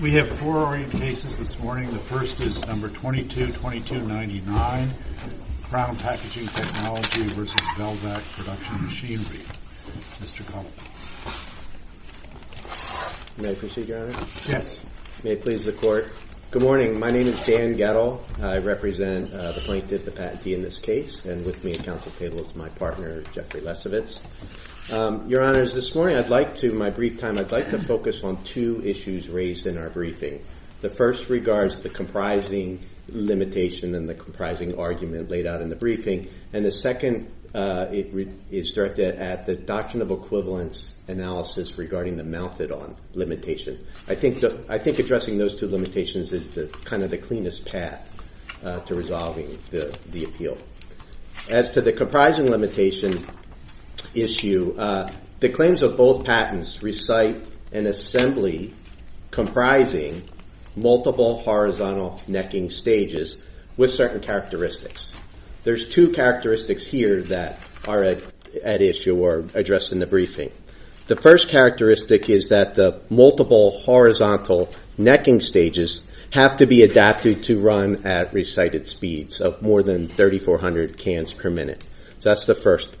We have four oriented cases this morning. The first is No. 222299, Crown Packaging Technology, v. Belvac Production Machinery. Mr. Cullen. May I proceed, Your Honor? Yes. May it please the Court. Good morning. My name is Dan Gettle. I represent the plaintiff, the patentee in this case, and with me at counsel table is my partner, Jeffrey Lesovitz. Your Honors, this morning I'd like to, in my brief time, I'd like to focus on two issues raised in our briefing. The first regards the comprising limitation and the comprising argument laid out in the briefing. And the second is directed at the Doctrine of Equivalence analysis regarding the mounted on limitation. I think addressing those two limitations is kind of the cleanest path to resolving the appeal. As to the comprising limitation issue, the claims of both patents recite an assembly comprising multiple horizontal necking stages with certain characteristics. There's two characteristics here that are at issue or addressed in the briefing. The first characteristic is that the multiple horizontal necking stages have to be adapted to run at recited speeds of more than 3400 cans per minute. So that's the first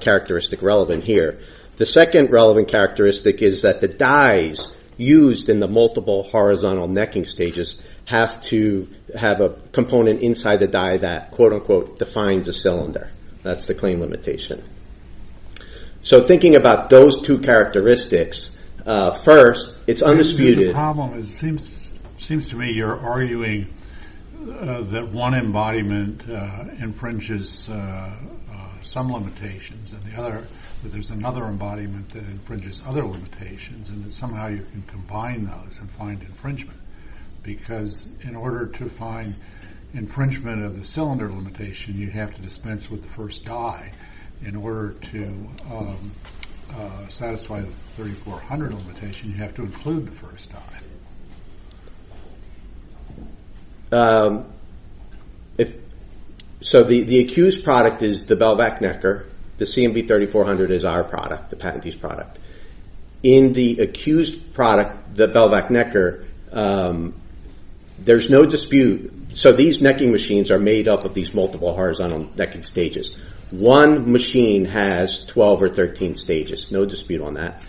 characteristic relevant here. The second relevant characteristic is that the dies used in the multiple horizontal necking stages have to have a component inside the die that, quote unquote, defines a cylinder. That's the claim limitation. So thinking about those two characteristics, first, it's undisputed. The problem is, it seems to me you're arguing that one embodiment infringes some limitations and the other, that there's another embodiment that infringes other limitations and that somehow you can combine those and find infringement. Because in order to find infringement of the cylinder limitation, you have to dispense with the first die. In order to satisfy the 3400 limitation, you have to include the first die. So the accused product is the Bell-Vac Necker. The CMB 3400 is our product, the patentee's product. In the accused product, the Bell-Vac Necker, there's no dispute. So these necking machines are made up of these multiple horizontal necking stages. One machine has 12 or 13 stages. No dispute on that.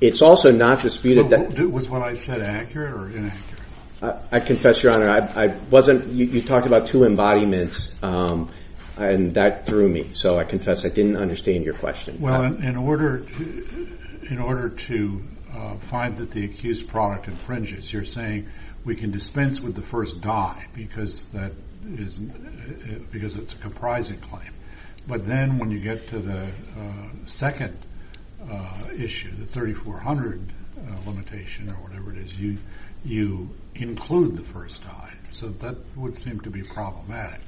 It's also not disputed that... Was what I said accurate or inaccurate? I confess, Your Honor. You talked about two embodiments and that threw me. So I confess I didn't understand your question. Well, in order to find that the accused product infringes, you're saying we can dispense with the first die because it's a comprising claim. But then when you get to the second issue, the 3400 limitation or whatever it is, you include the first die. So that would seem to be problematic.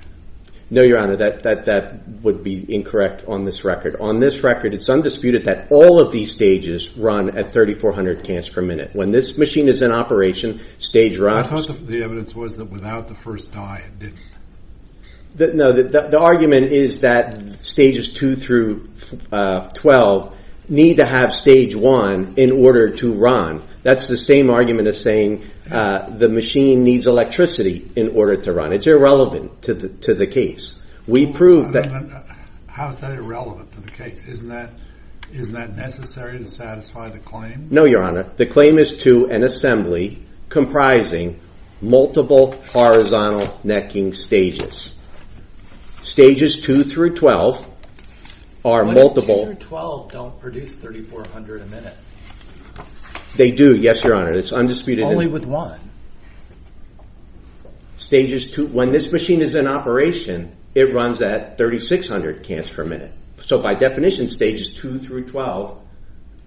No, Your Honor. That would be incorrect on this record. On this record, it's undisputed that all of these stages run at 3400 cans per minute. When this machine is in operation, stage runs... I thought the evidence was that without the first die, it didn't. The argument is that stages 2 through 12 need to have stage 1 in order to run. That's the same argument as saying the machine needs electricity in order to run. It's irrelevant to the case. How is that irrelevant to the case? Isn't that necessary to satisfy the claim? No, Your Honor. The claim is to an assembly comprising multiple horizontal necking stages. Stages 2 through 12 are multiple... But stages 2 through 12 don't produce 3400 a minute. They do, yes, Your Honor. It's undisputed. Only with one? When this machine is in operation, it runs at 3600 cans per minute. So by definition, stages 2 through 12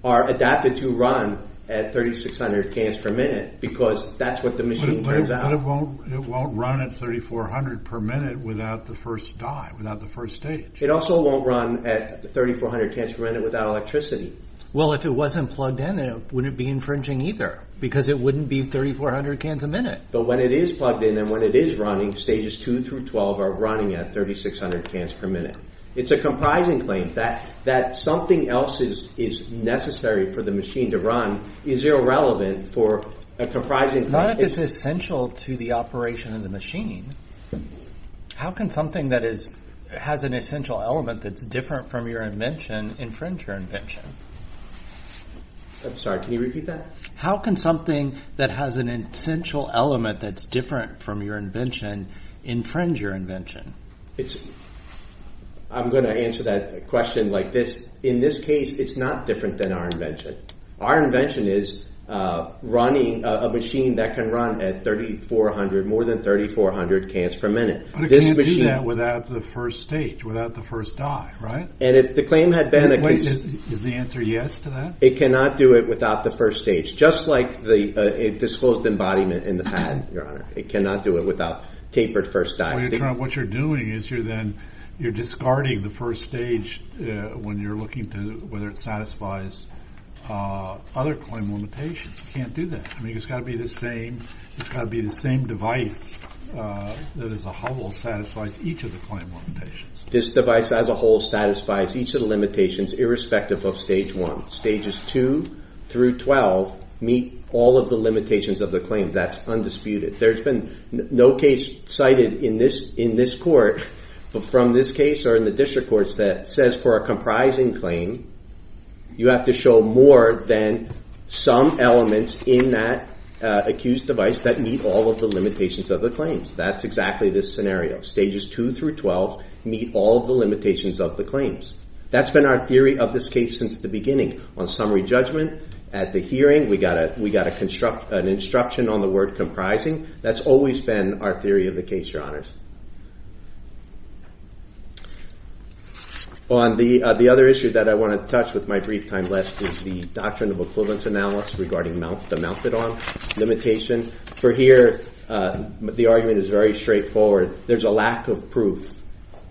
are adapted to run at 3600 cans per minute because that's what the machine turns out... But it won't run at 3400 per minute without the first die, without the first stage. It also won't run at 3400 cans per minute without electricity. Well, if it wasn't plugged in, it wouldn't be infringing either because it wouldn't be 3400 cans a minute. But when it is plugged in and when it is running, stages 2 through 12 are running at 3600 cans per minute. It's a comprising claim that something else is necessary for the machine to run is irrelevant for a comprising... Not if it's essential to the operation of the machine. How can something that has an essential element that's different from your invention infringe your invention? I'm sorry, can you repeat that? How can something that has an essential element that's different from your invention infringe your invention? I'm going to answer that question like this. In this case, it's not different than our invention. Our invention is a machine that can run at 3400, more than 3400 cans per minute. But it can't do that without the first stage, without the first die, right? And if the claim had been... Is the answer yes to that? It cannot do it without the first stage, just like the disclosed embodiment in the pad, Your Honor. It cannot do it without tapered first die. What you're doing is you're discarding the first stage when you're looking to whether it satisfies other claim limitations. You can't do that. I mean, it's got to be the same device that as a whole satisfies each of the claim limitations. This device as a whole satisfies each of the limitations, irrespective of stage one. Stages two through 12 meet all of the limitations of the claim. That's undisputed. There's been no case cited in this court from this case or in the district courts that says for a comprising claim, you have to show more than some elements in that accused device that meet all of the limitations of the claims. That's exactly this scenario. Stages two through 12 meet all of the limitations of the claims. That's been our theory of this case since the beginning. On summary judgment, at the hearing, we got an instruction on the word comprising. That's always been our theory of the case, Your Honors. On the other issue that I want to touch with my brief time left is the doctrine of equivalence analysis regarding the mounted-on limitation. For here, the argument is very straightforward. There's a lack of proof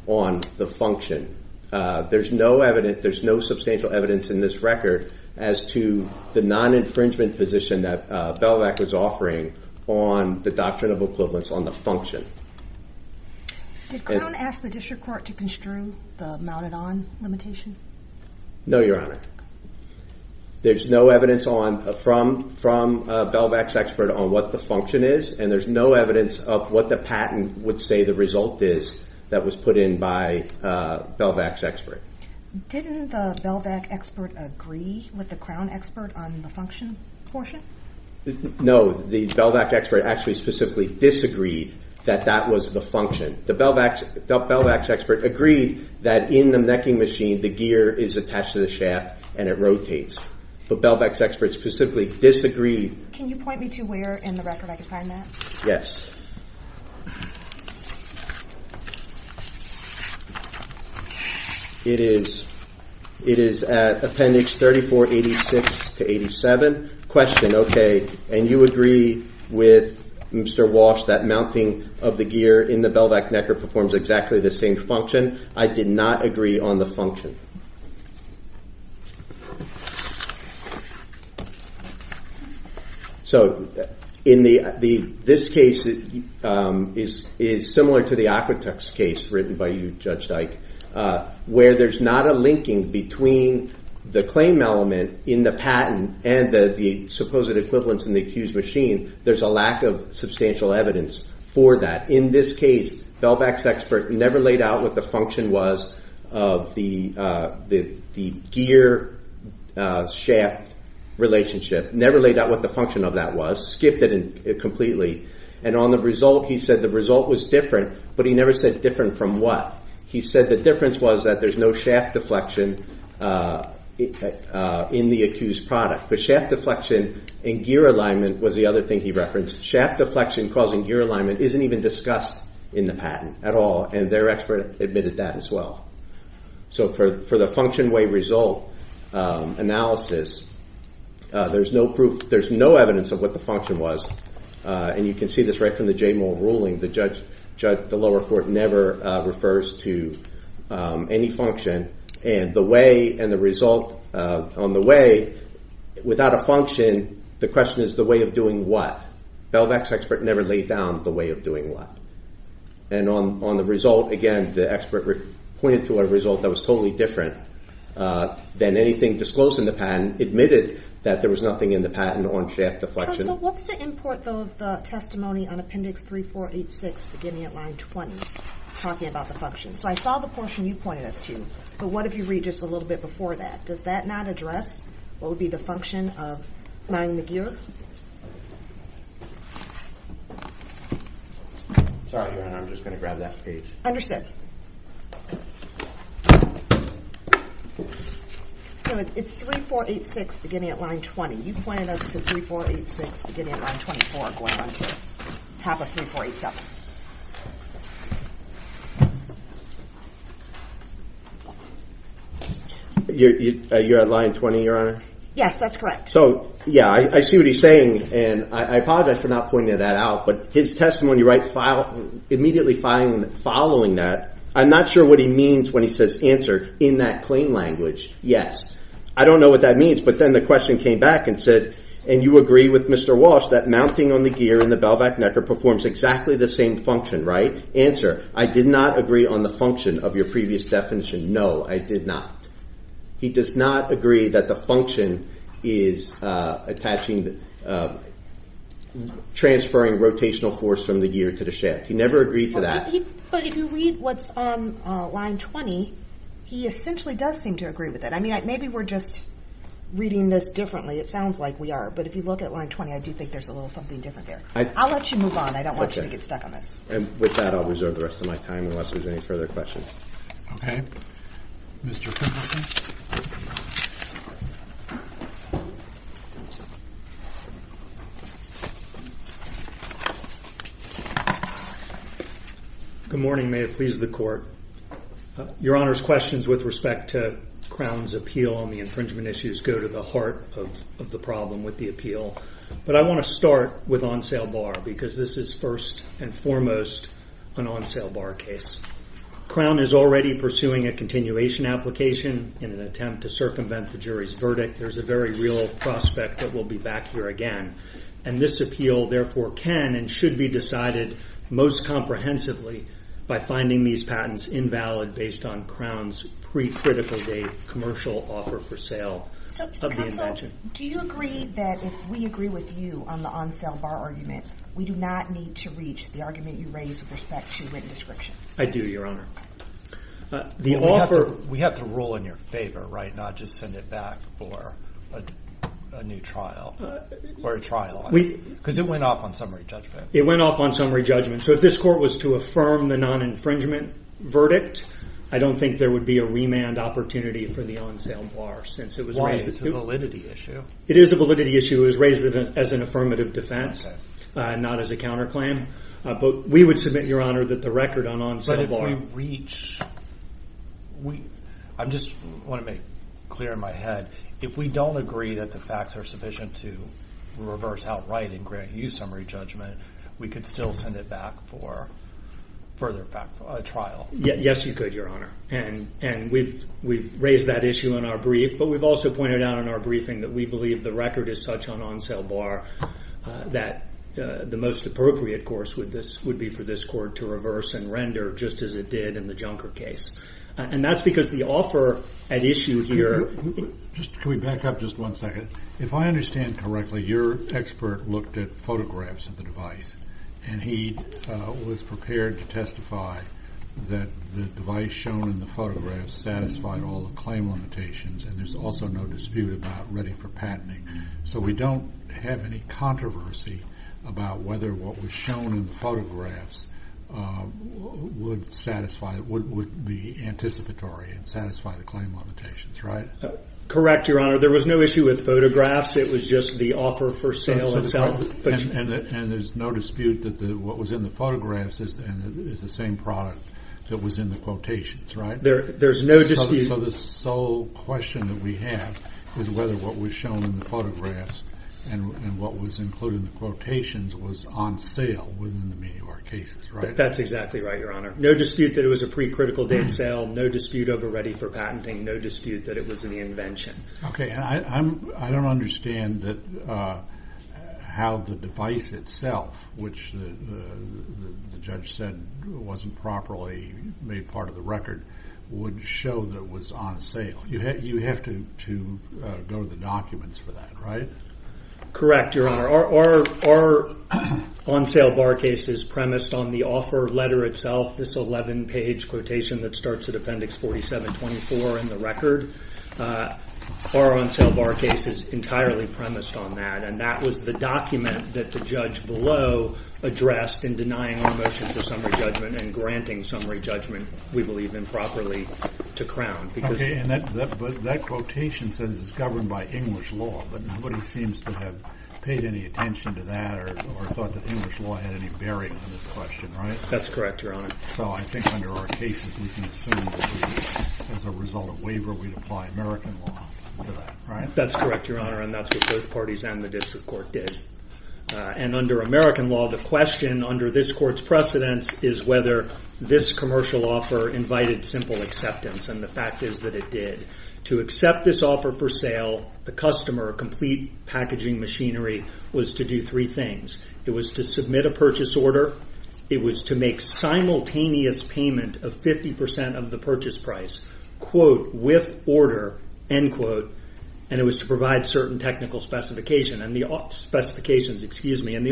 on the function. There's no evidence. There's no substantial evidence in this record as to the non-infringement position that Belovac was offering on the doctrine of equivalence on the function. Did Crown ask the district court to construe the mounted-on limitation? No, Your Honor. There's no evidence from Belovac's expert on what the function is, and there's no evidence of what the patent would say the result is that was put in by Belovac's expert. Didn't the Belovac expert agree with the Crown expert on the function portion? No. The Belovac expert actually specifically disagreed that that was the function. The Belovac's expert agreed that in the necking machine, the gear is attached to the shaft and it rotates. But Belovac's expert specifically disagreed. Can you point me to where in the record I can find that? Yes. It is at appendix 3486 to 87. Question, okay, and you agree with Mr. Walsh that mounting of the gear in the Belovac necker performs exactly the same function? I did not agree on the function. So this case is similar to the Aquatex case written by you, Judge Dyke, where there's not a linking between the claim element in the patent and the supposed equivalence in the accused machine. There's a lack of substantial evidence for that. In this case, Belovac's expert never laid out what the function was of the gear-shaft relationship, never laid out what the function of that was, skipped it completely, and on the result he said the result was different, but he never said different from what. He said the difference was that there's no shaft deflection in the accused product. The shaft deflection in gear alignment was the other thing he referenced. Shaft deflection causing gear alignment isn't even discussed in the patent at all, and their expert admitted that as well. So for the function-way result analysis, there's no evidence of what the function was, and you can see this right from the Jaymoor ruling. The lower court never refers to any function, and the way and the result on the way without a function, the question is the way of doing what. Belovac's expert never laid down the way of doing what. And on the result, again, the expert pointed to a result that was totally different than anything disclosed in the patent, admitted that there was nothing in the patent on shaft deflection. Counsel, what's the import, though, of the testimony on Appendix 3486, beginning at line 20, talking about the function? So I saw the portion you pointed us to, but what if you read just a little bit before that? Does that not address what would be the function of lying the gear? Sorry, Your Honor, I'm just going to grab that page. So it's 3486 beginning at line 20. You pointed us to 3486 beginning at line 24 going on to the top of 3487. You're at line 20, Your Honor? Yes, that's correct. So, yeah, I see what he's saying, and I apologize for not pointing that out, but his testimony immediately following that, I'm not sure what he means when he says, answer, in that plain language, yes. I don't know what that means, but then the question came back and said, and you agree with Mr. Walsh that mounting on the gear in the Belovac necker performs exactly the same function, right? Answer, I did not agree on the function of your previous definition. No, I did not. He does not agree that the function is transferring rotational force from the gear to the shaft. He never agreed to that. But if you read what's on line 20, he essentially does seem to agree with it. I mean, maybe we're just reading this differently. It sounds like we are, but if you look at line 20, I do think there's a little something different there. I'll let you move on. I don't want you to get stuck on this. And with that, I'll reserve the rest of my time unless there's any further questions. Okay. Mr. Finkelstein. Good morning. May it please the court. Your Honor's questions with respect to Crown's appeal on the infringement issues go to the heart of the problem with the appeal. But I want to start with on sale bar because this is first and foremost an on sale bar case. Crown is already pursuing a continuation application in an attempt to circumvent the jury's verdict. There's a very real prospect that we'll be back here again. And this appeal, therefore, can and should be decided most comprehensively by finding these patents invalid based on Crown's pre-critical date commercial offer for sale of the invention. So counsel, do you agree that if we agree with you on the on sale bar argument, we do not need to reach the argument you raised with respect to written description? I do, Your Honor. We have to rule in your favor, right, not just send it back for a new trial or a trial on it. Because it went off on summary judgment. It went off on summary judgment. So if this court was to affirm the non-infringement verdict, I don't think there would be a remand opportunity for the on sale bar since it was raised. Why? It's a validity issue. It is a validity issue. It was raised as an affirmative defense, not as a counterclaim. But we would submit, Your Honor, that the record on on sale bar. But if we reach, I just want to make clear in my head, if we don't agree that the facts are sufficient to reverse outright and grant you summary judgment, we could still send it back for further trial. Yes, you could, Your Honor. And we've raised that issue in our brief. But we've also pointed out in our briefing that we believe the record is such on on sale bar that the most appropriate course would be for this court to reverse and render just as it did in the Junker case. And that's because the offer at issue here. Can we back up just one second? If I understand correctly, your expert looked at photographs of the device. And he was prepared to testify that the device shown in the photographs satisfied all the claim limitations. And there's also no dispute about ready for patenting. So we don't have any controversy about whether what was shown in the photographs would satisfy, would be anticipatory and satisfy the claim limitations, right? Correct, Your Honor. There was no issue with photographs. It was just the offer for sale itself. And there's no dispute that what was in the photographs is the same product that was in the quotations, right? There's no dispute. So the sole question that we have is whether what was shown in the photographs and what was included in the quotations was on sale within the many of our cases, right? That's exactly right, Your Honor. No dispute that it was a pre-critical date sale. No dispute over ready for patenting. No dispute that it was an invention. Okay. I don't understand how the device itself, which the judge said wasn't properly made part of the record, would show that it was on sale. You have to go to the documents for that, right? Correct, Your Honor. Our on-sale bar case is premised on the offer letter itself, this 11-page quotation that starts at Appendix 4724 in the record. Our on-sale bar case is entirely premised on that, and that was the document that the judge below addressed in denying our motion for summary judgment and granting summary judgment, we believe improperly, to Crown. Okay, but that quotation says it's governed by English law, but nobody seems to have paid any attention to that or thought that English law had any bearing on this question, right? That's correct, Your Honor. So I think under our cases we can assume that as a result of waiver we'd apply American law to that, right? That's correct, Your Honor, and that's what both parties and the district court did. And under American law, the question under this court's precedence is whether this commercial offer invited simple acceptance, and the fact is that it did. To accept this offer for sale, the customer, complete packaging machinery, was to do three things. It was to submit a purchase order. It was to make simultaneous payment of 50% of the purchase price, quote, with order, end quote, and it was to provide certain technical specifications. And the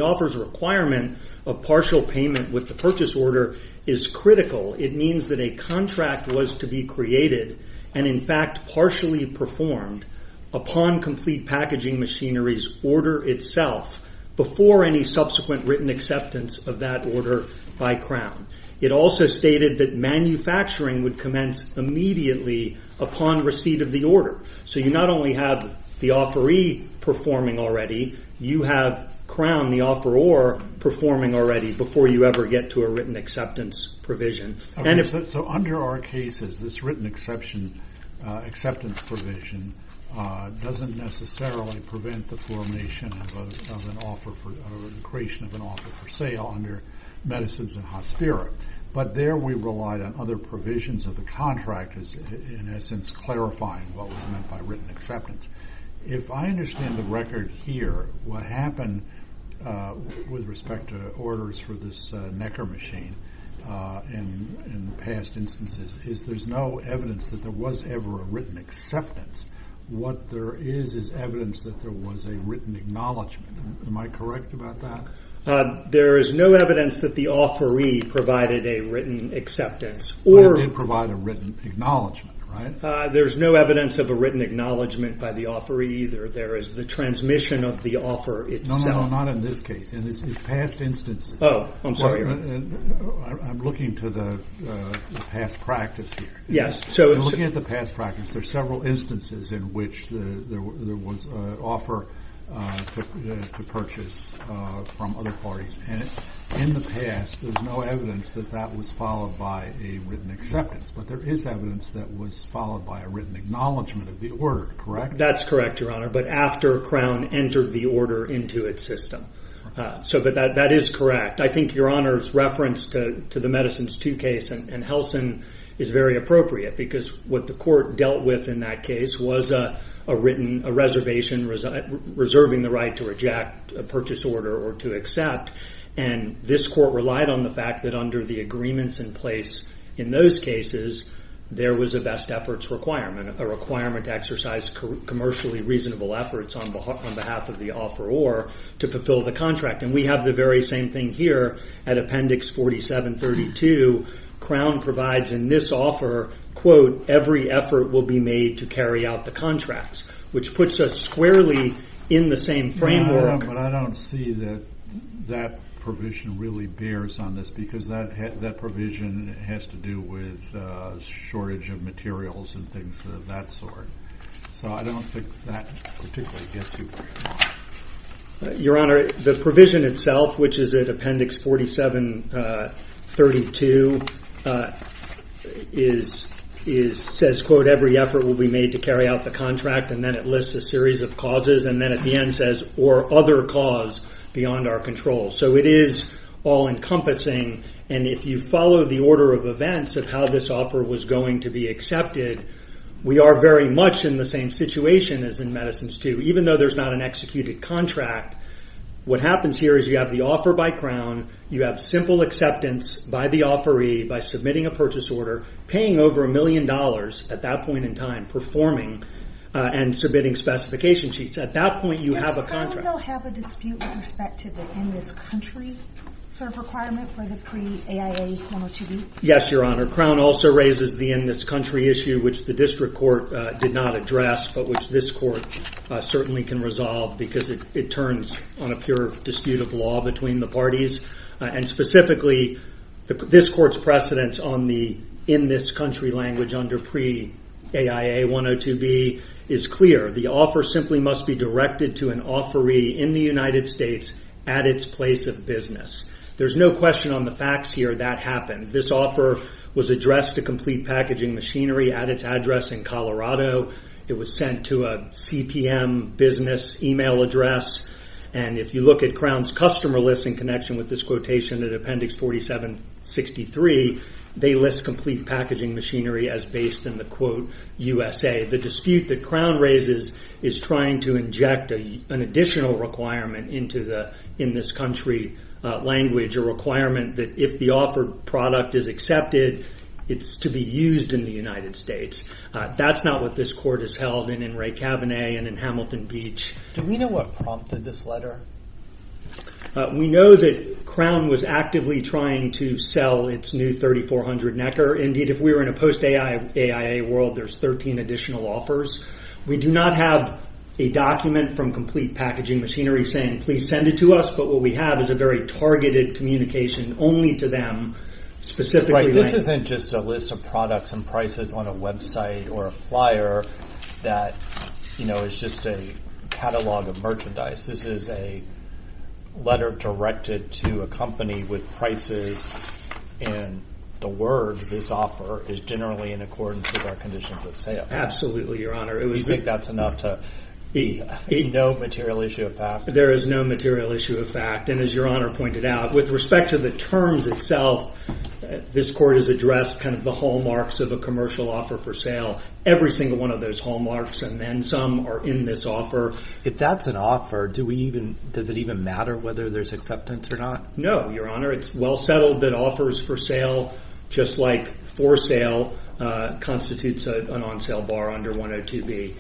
offer's requirement of partial payment with the purchase order is critical. It means that a contract was to be created and, in fact, partially performed upon complete packaging machinery's order itself before any subsequent written acceptance of that order by Crown. It also stated that manufacturing would commence immediately upon receipt of the order. So you not only have the offeree performing already, you have Crown, the offeror, performing already before you ever get to a written acceptance provision. So under our cases, this written acceptance provision doesn't necessarily prevent the formation of an offer or the creation of an offer for sale under Medicins and Hospira, but there we relied on other provisions of the contract, in essence, clarifying what was meant by written acceptance. If I understand the record here, what happened with respect to orders for this Necker machine in past instances is there's no evidence that there was ever a written acceptance. What there is is evidence that there was a written acknowledgment. Am I correct about that? There is no evidence that the offeree provided a written acceptance. But it did provide a written acknowledgment, right? There's no evidence of a written acknowledgment by the offeree either. There is the transmission of the offer itself. No, no, no, not in this case. Oh, I'm sorry. I'm looking to the past practice here. Yes. I'm looking at the past practice. There are several instances in which there was an offer to purchase from other parties. In the past, there's no evidence that that was followed by a written acceptance, but there is evidence that was followed by a written acknowledgment of the order, correct? That's correct, Your Honor, but after Crown entered the order into its system. That is correct. I think Your Honor's reference to the Medicines II case and Helsin is very appropriate because what the court dealt with in that case was a written reservation reserving the right to reject a purchase order or to accept, and this court relied on the fact that under the agreements in place in those cases, there was a best efforts requirement, a requirement to exercise commercially reasonable efforts on behalf of the offeror to fulfill the contract, and we have the very same thing here at Appendix 4732. Crown provides in this offer, quote, every effort will be made to carry out the contracts, which puts us squarely in the same framework. But I don't see that that provision really bears on this because that provision has to do with shortage of materials and things of that sort, so I don't think that particularly gets you very far. Your Honor, the provision itself, which is at Appendix 4732, says, quote, every effort will be made to carry out the contract, and then it lists a series of causes, and then at the end says, or other cause beyond our control. So it is all-encompassing, and if you follow the order of events of how this offer was going to be accepted, we are very much in the same situation as in Medicines II, even though there's not an executed contract. What happens here is you have the offer by Crown, you have simple acceptance by the offeree by submitting a purchase order, paying over a million dollars at that point in time, performing and submitting specification sheets. At that point, you have a contract. Does Crown, though, have a dispute with respect to the in-this-country sort of requirement for the pre-AIA 102B? Yes, Your Honor. Crown also raises the in-this-country issue, which the district court did not address, but which this court certainly can resolve because it turns on a pure dispute of law between the parties. And specifically, this court's precedence on the in-this-country language under pre-AIA 102B is clear. The offer simply must be directed to an offeree in the United States at its place of business. There's no question on the facts here that happened. This offer was addressed to Complete Packaging Machinery at its address in Colorado. It was sent to a CPM business email address, and if you look at Crown's customer list in connection with this quotation in Appendix 4763, they list Complete Packaging Machinery as based in the quote, USA. The dispute that Crown raises is trying to inject an additional requirement into the in-this-country language, a requirement that if the offered product is accepted, it's to be used in the United States. That's not what this court has held in In re Cabinet and in Hamilton Beach. Do we know what prompted this letter? We know that Crown was actively trying to sell its new 3400 Necker. Indeed, if we were in a post-AIA world, there's 13 additional offers. We do not have a document from Complete Packaging Machinery saying, please send it to us, but what we have is a very targeted communication only to them specifically. Right. This isn't just a list of products and prices on a website or a flyer that is just a catalog of merchandise. This is a letter directed to a company with prices, and the words, this offer, is generally in accordance with our conditions of sale. Absolutely, Your Honor. Do you think that's enough to be no material issue of fact? There is no material issue of fact, and as Your Honor pointed out, with respect to the terms itself, this court has addressed kind of the hallmarks of a commercial offer for sale, every single one of those hallmarks, and then some are in this offer. If that's an offer, does it even matter whether there's acceptance or not? No, Your Honor. It's well settled that offers for sale, just like for sale, constitutes an on-sale bar under 102B.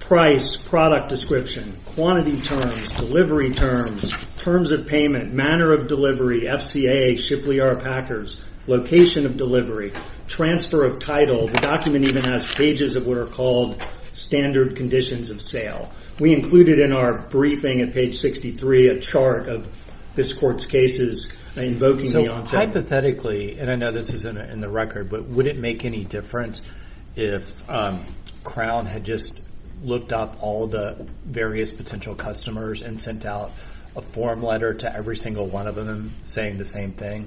Price, product description, quantity terms, delivery terms, terms of payment, manner of delivery, FCA, Shipley R. Packers, location of delivery, transfer of title. The document even has pages of what are called standard conditions of sale. We included in our briefing at page 63 a chart of this court's cases invoking the on-sale. Hypothetically, and I know this isn't in the record, but would it make any difference if Crown had just looked up all the various potential customers and sent out a form letter to every single one of them saying the same thing?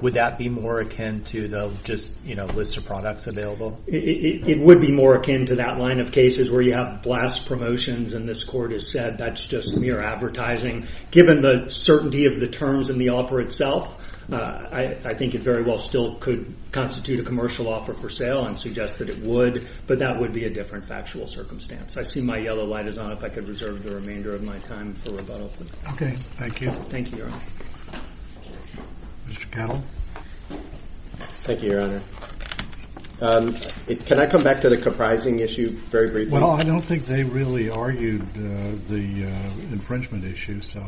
Would that be more akin to the just list of products available? It would be more akin to that line of cases where you have blast promotions, and this court has said that's just mere advertising. Given the certainty of the terms in the offer itself, I think it very well still could constitute a commercial offer for sale and suggest that it would, but that would be a different factual circumstance. I see my yellow light is on. If I could reserve the remainder of my time for rebuttal, please. Okay. Thank you. Thank you, Your Honor. Mr. Kettle? Thank you, Your Honor. Can I come back to the comprising issue very briefly? Well, I don't think they really argued the infringement issue, so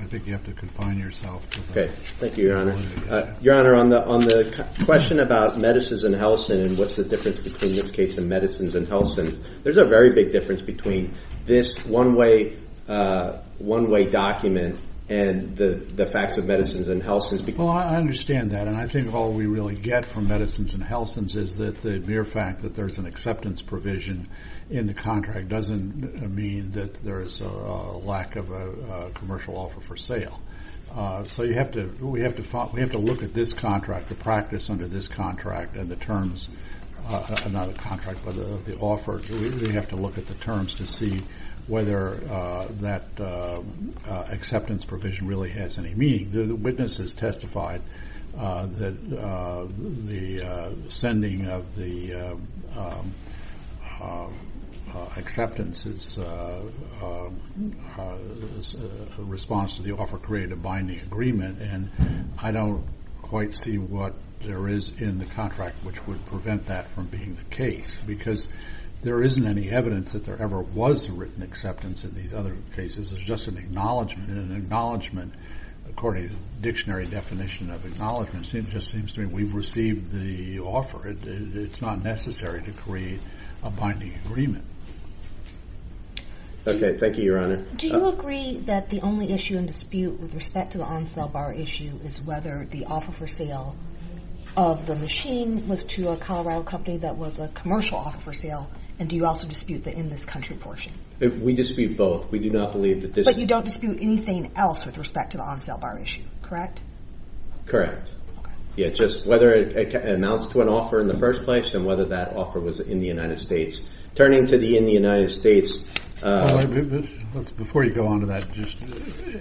I think you have to confine yourself to that. Okay. Thank you, Your Honor. Your Honor, on the question about medicines and Helsins and what's the difference between this case and medicines and Helsins, there's a very big difference between this one-way document and the facts of medicines and Helsins. Well, I understand that, and I think all we really get from medicines and Helsins is that the mere fact that there's an acceptance provision in the contract doesn't mean that there's a lack of a commercial offer for sale. So we have to look at this contract, the practice under this contract and the terms, not a contract, but the offer, we have to look at the terms to see whether that acceptance provision really has any meaning. The witnesses testified that the sending of the acceptance is a response to the offer created to bind the agreement, and I don't quite see what there is in the contract which would prevent that from being the case because there isn't any evidence that there ever was a written acceptance in these other cases. There's just an acknowledgment, and an acknowledgment, according to the dictionary definition of acknowledgment, just seems to mean we've received the offer. It's not necessary to create a binding agreement. Okay. Thank you, Your Honor. Do you agree that the only issue in dispute with respect to the on-sale bar issue is whether the offer for sale of the machine was to a Colorado company that was a commercial offer for sale, and do you also dispute the in-this-country portion? We dispute both. We do not believe that this is But you don't dispute anything else with respect to the on-sale bar issue, correct? Correct. Okay. Yeah, just whether it amounts to an offer in the first place and whether that offer was in the United States. Turning to the in the United States Before you go on to that, just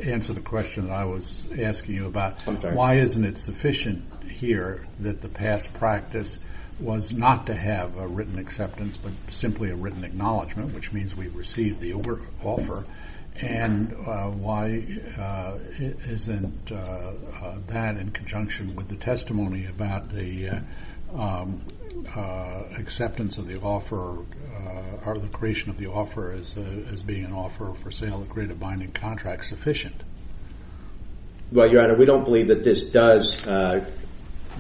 answer the question that I was asking you about. I'm sorry. Why isn't it sufficient here that the past practice was not to have a written acceptance but simply a written acknowledgment, which means we've received the offer? And why isn't that in conjunction with the testimony about the acceptance of the offer or the creation of the offer as being an offer for sale to create a binding contract sufficient? Well, Your Honor, we don't believe that this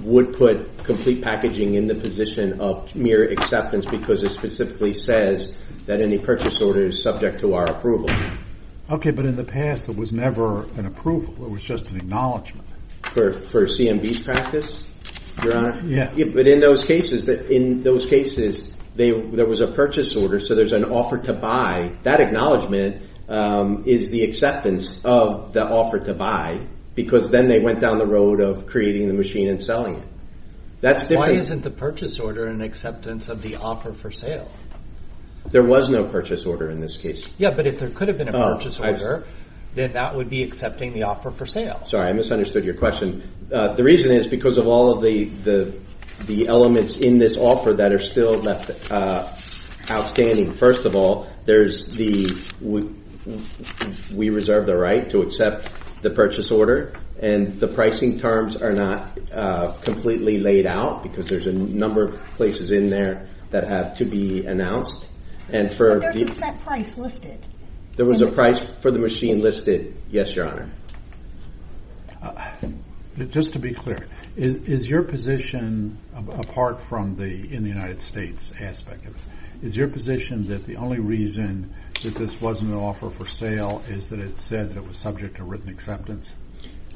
would put complete packaging in the position of mere acceptance because it specifically says that any purchase order is subject to our approval. Okay, but in the past, it was never an approval. It was just an acknowledgment. For CMB's practice, Your Honor? Yeah. But in those cases, there was a purchase order, so there's an offer to buy. That acknowledgment is the acceptance of the offer to buy because then they went down the road of creating the machine and selling it. Why isn't the purchase order an acceptance of the offer for sale? There was no purchase order in this case. Yeah, but if there could have been a purchase order, then that would be accepting the offer for sale. Sorry, I misunderstood your question. The reason is because of all of the elements in this offer that are still outstanding. First of all, we reserve the right to accept the purchase order, and the pricing terms are not completely laid out because there's a number of places in there that have to be announced. But there's a set price listed. There was a price for the machine listed, yes, Your Honor. Just to be clear, is your position, apart from the in the United States aspect of it, is your position that the only reason that this wasn't an offer for sale is that it said that it was subject to written acceptance?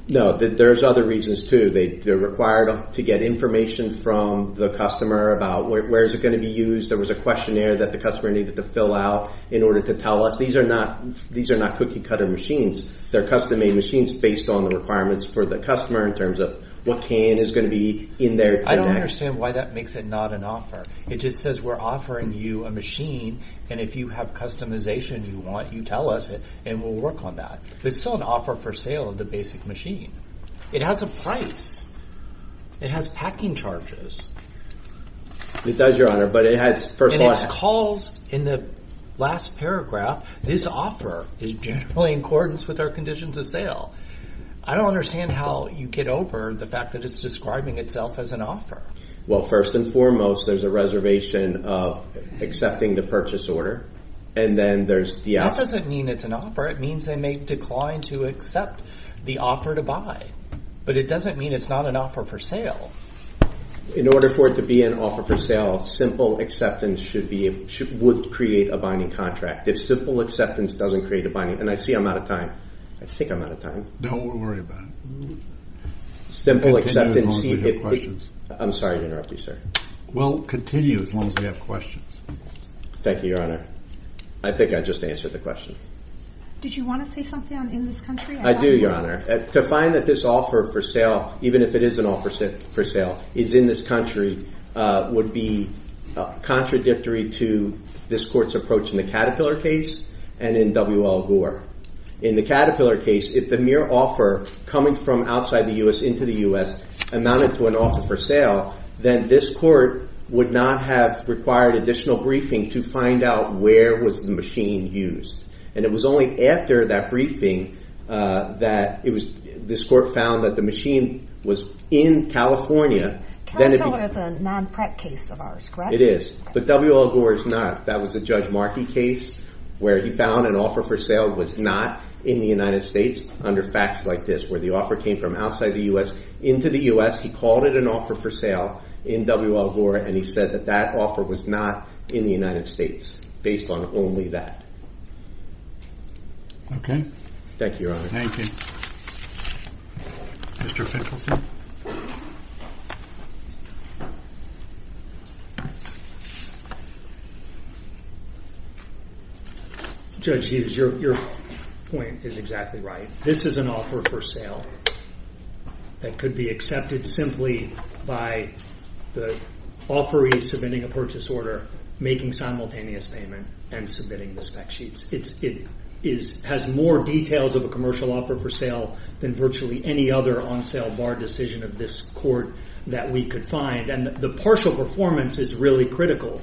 No, there's other reasons too. They're required to get information from the customer about where is it going to be used. There was a questionnaire that the customer needed to fill out in order to tell us. These are not cookie cutter machines. They're custom-made machines based on the requirements for the customer in terms of what can is going to be in there. I don't understand why that makes it not an offer. It just says we're offering you a machine, and if you have customization you want, you tell us. And we'll work on that. It's still an offer for sale of the basic machine. It has a price. It has packing charges. It does, Your Honor, but it has, first of all, And it calls in the last paragraph, this offer is generally in accordance with our conditions of sale. I don't understand how you get over the fact that it's describing itself as an offer. Well, first and foremost, there's a reservation of accepting the purchase order. And then there's the offer. That doesn't mean it's an offer. It means they may decline to accept the offer to buy. But it doesn't mean it's not an offer for sale. In order for it to be an offer for sale, simple acceptance would create a binding contract. If simple acceptance doesn't create a binding contract, and I see I'm out of time. I think I'm out of time. Don't worry about it. Simple acceptance. Continue as long as we have questions. I'm sorry to interrupt you, sir. Well, continue as long as we have questions. Thank you, Your Honor. I think I just answered the question. Did you want to say something on in this country? I do, Your Honor. To find that this offer for sale, even if it is an offer for sale, is in this country, would be contradictory to this court's approach in the Caterpillar case and in W.L. Gore. In the Caterpillar case, if the mere offer coming from outside the U.S. into the U.S. amounted to an offer for sale, then this court would not have required additional briefing to find out where was the machine used. And it was only after that briefing that this court found that the machine was in California. Caterpillar is a non-PREC case of ours, correct? It is. But W.L. Gore is not. That was a Judge Markey case where he found an offer for sale was not in the United States under facts like this, where the offer came from outside the U.S. into the U.S. He called it an offer for sale in W.L. Gore, and he said that that offer was not in the United States based on only that. Thank you, Your Honor. Thank you. Mr. Pickleson? Judge Hughes, your point is exactly right. This is an offer for sale that could be accepted simply by the offeree submitting a purchase order, making simultaneous payment, and submitting the spec sheets. It has more details of a commercial offer for sale than virtually any other on-sale bar decision of this court that we could find, and the partial performance is really critical.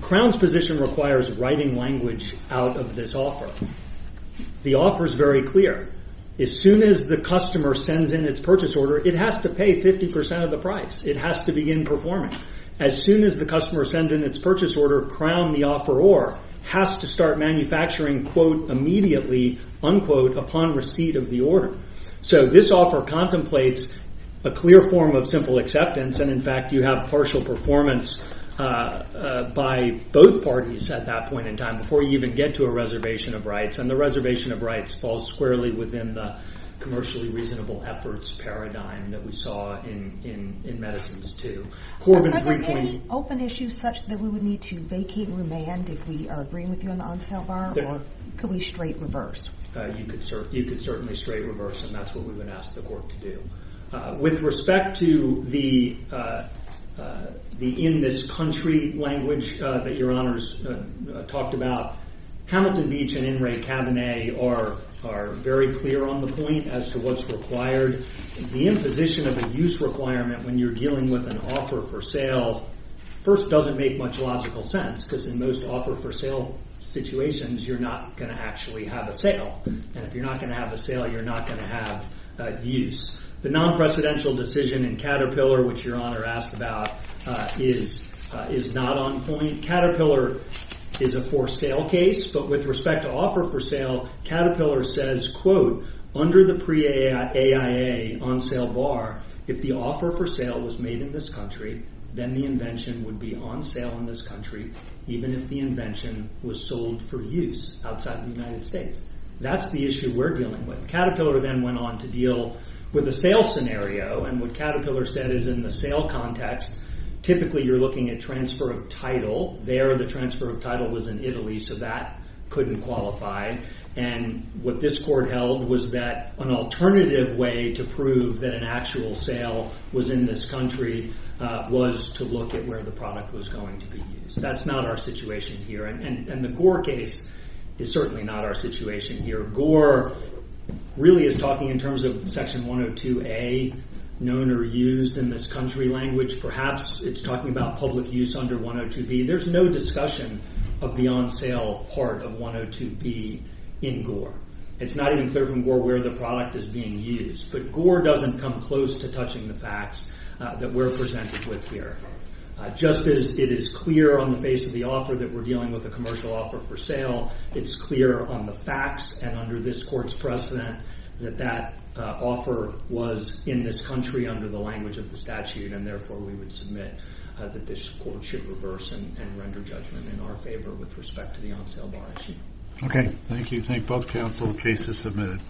Crown's position requires writing language out of this offer. The offer is very clear. As soon as the customer sends in its purchase order, it has to pay 50% of the price. It has to begin performing. As soon as the customer sends in its purchase order, Crown, the offeror, has to start manufacturing immediately upon receipt of the order. This offer contemplates a clear form of simple acceptance, and, in fact, you have partial performance by both parties at that point in time before you even get to a reservation of rights, and the reservation of rights falls squarely within the commercially reasonable efforts paradigm that we saw in medicines, too. Are there any open issues such that we would need to vacate and remand if we are agreeing with you on the on-sale bar, or could we straight reverse? You could certainly straight reverse, and that's what we would ask the court to do. With respect to the in-this-country language that Your Honors talked about, Hamilton Beach and In re Cabernet are very clear on the point as to what's required. The imposition of a use requirement when you're dealing with an offer for sale first doesn't make much logical sense because in most offer for sale situations, you're not going to actually have a sale, and if you're not going to have a sale, you're not going to have use. The non-precedential decision in Caterpillar, which Your Honor asked about, is not on point. Caterpillar is a for-sale case, but with respect to offer for sale, Caterpillar says, under the pre-AIA on-sale bar, if the offer for sale was made in this country, then the invention would be on sale in this country even if the invention was sold for use outside the United States. That's the issue we're dealing with. Caterpillar then went on to deal with a sale scenario, and what Caterpillar said is in the sale context, typically you're looking at transfer of title. There, the transfer of title was in Italy, so that couldn't qualify, and what this court held was that an alternative way to prove that an actual sale was in this country was to look at where the product was going to be used. That's not our situation here, and the Gore case is certainly not our situation here. Gore really is talking in terms of Section 102A, known or used in this country language, perhaps it's talking about public use under 102B. There's no discussion of the on-sale part of 102B in Gore. It's not even clear from Gore where the product is being used, but Gore doesn't come close to touching the facts that we're presented with here. Just as it is clear on the face of the offer that we're dealing with a commercial offer for sale, it's clear on the facts and under this court's precedent that that offer was in this country under the language of the statute, and therefore we would submit that this court should reverse and render judgment in our favor with respect to the on-sale bar issue. Okay, thank you. Thank both counsel. The case is submitted.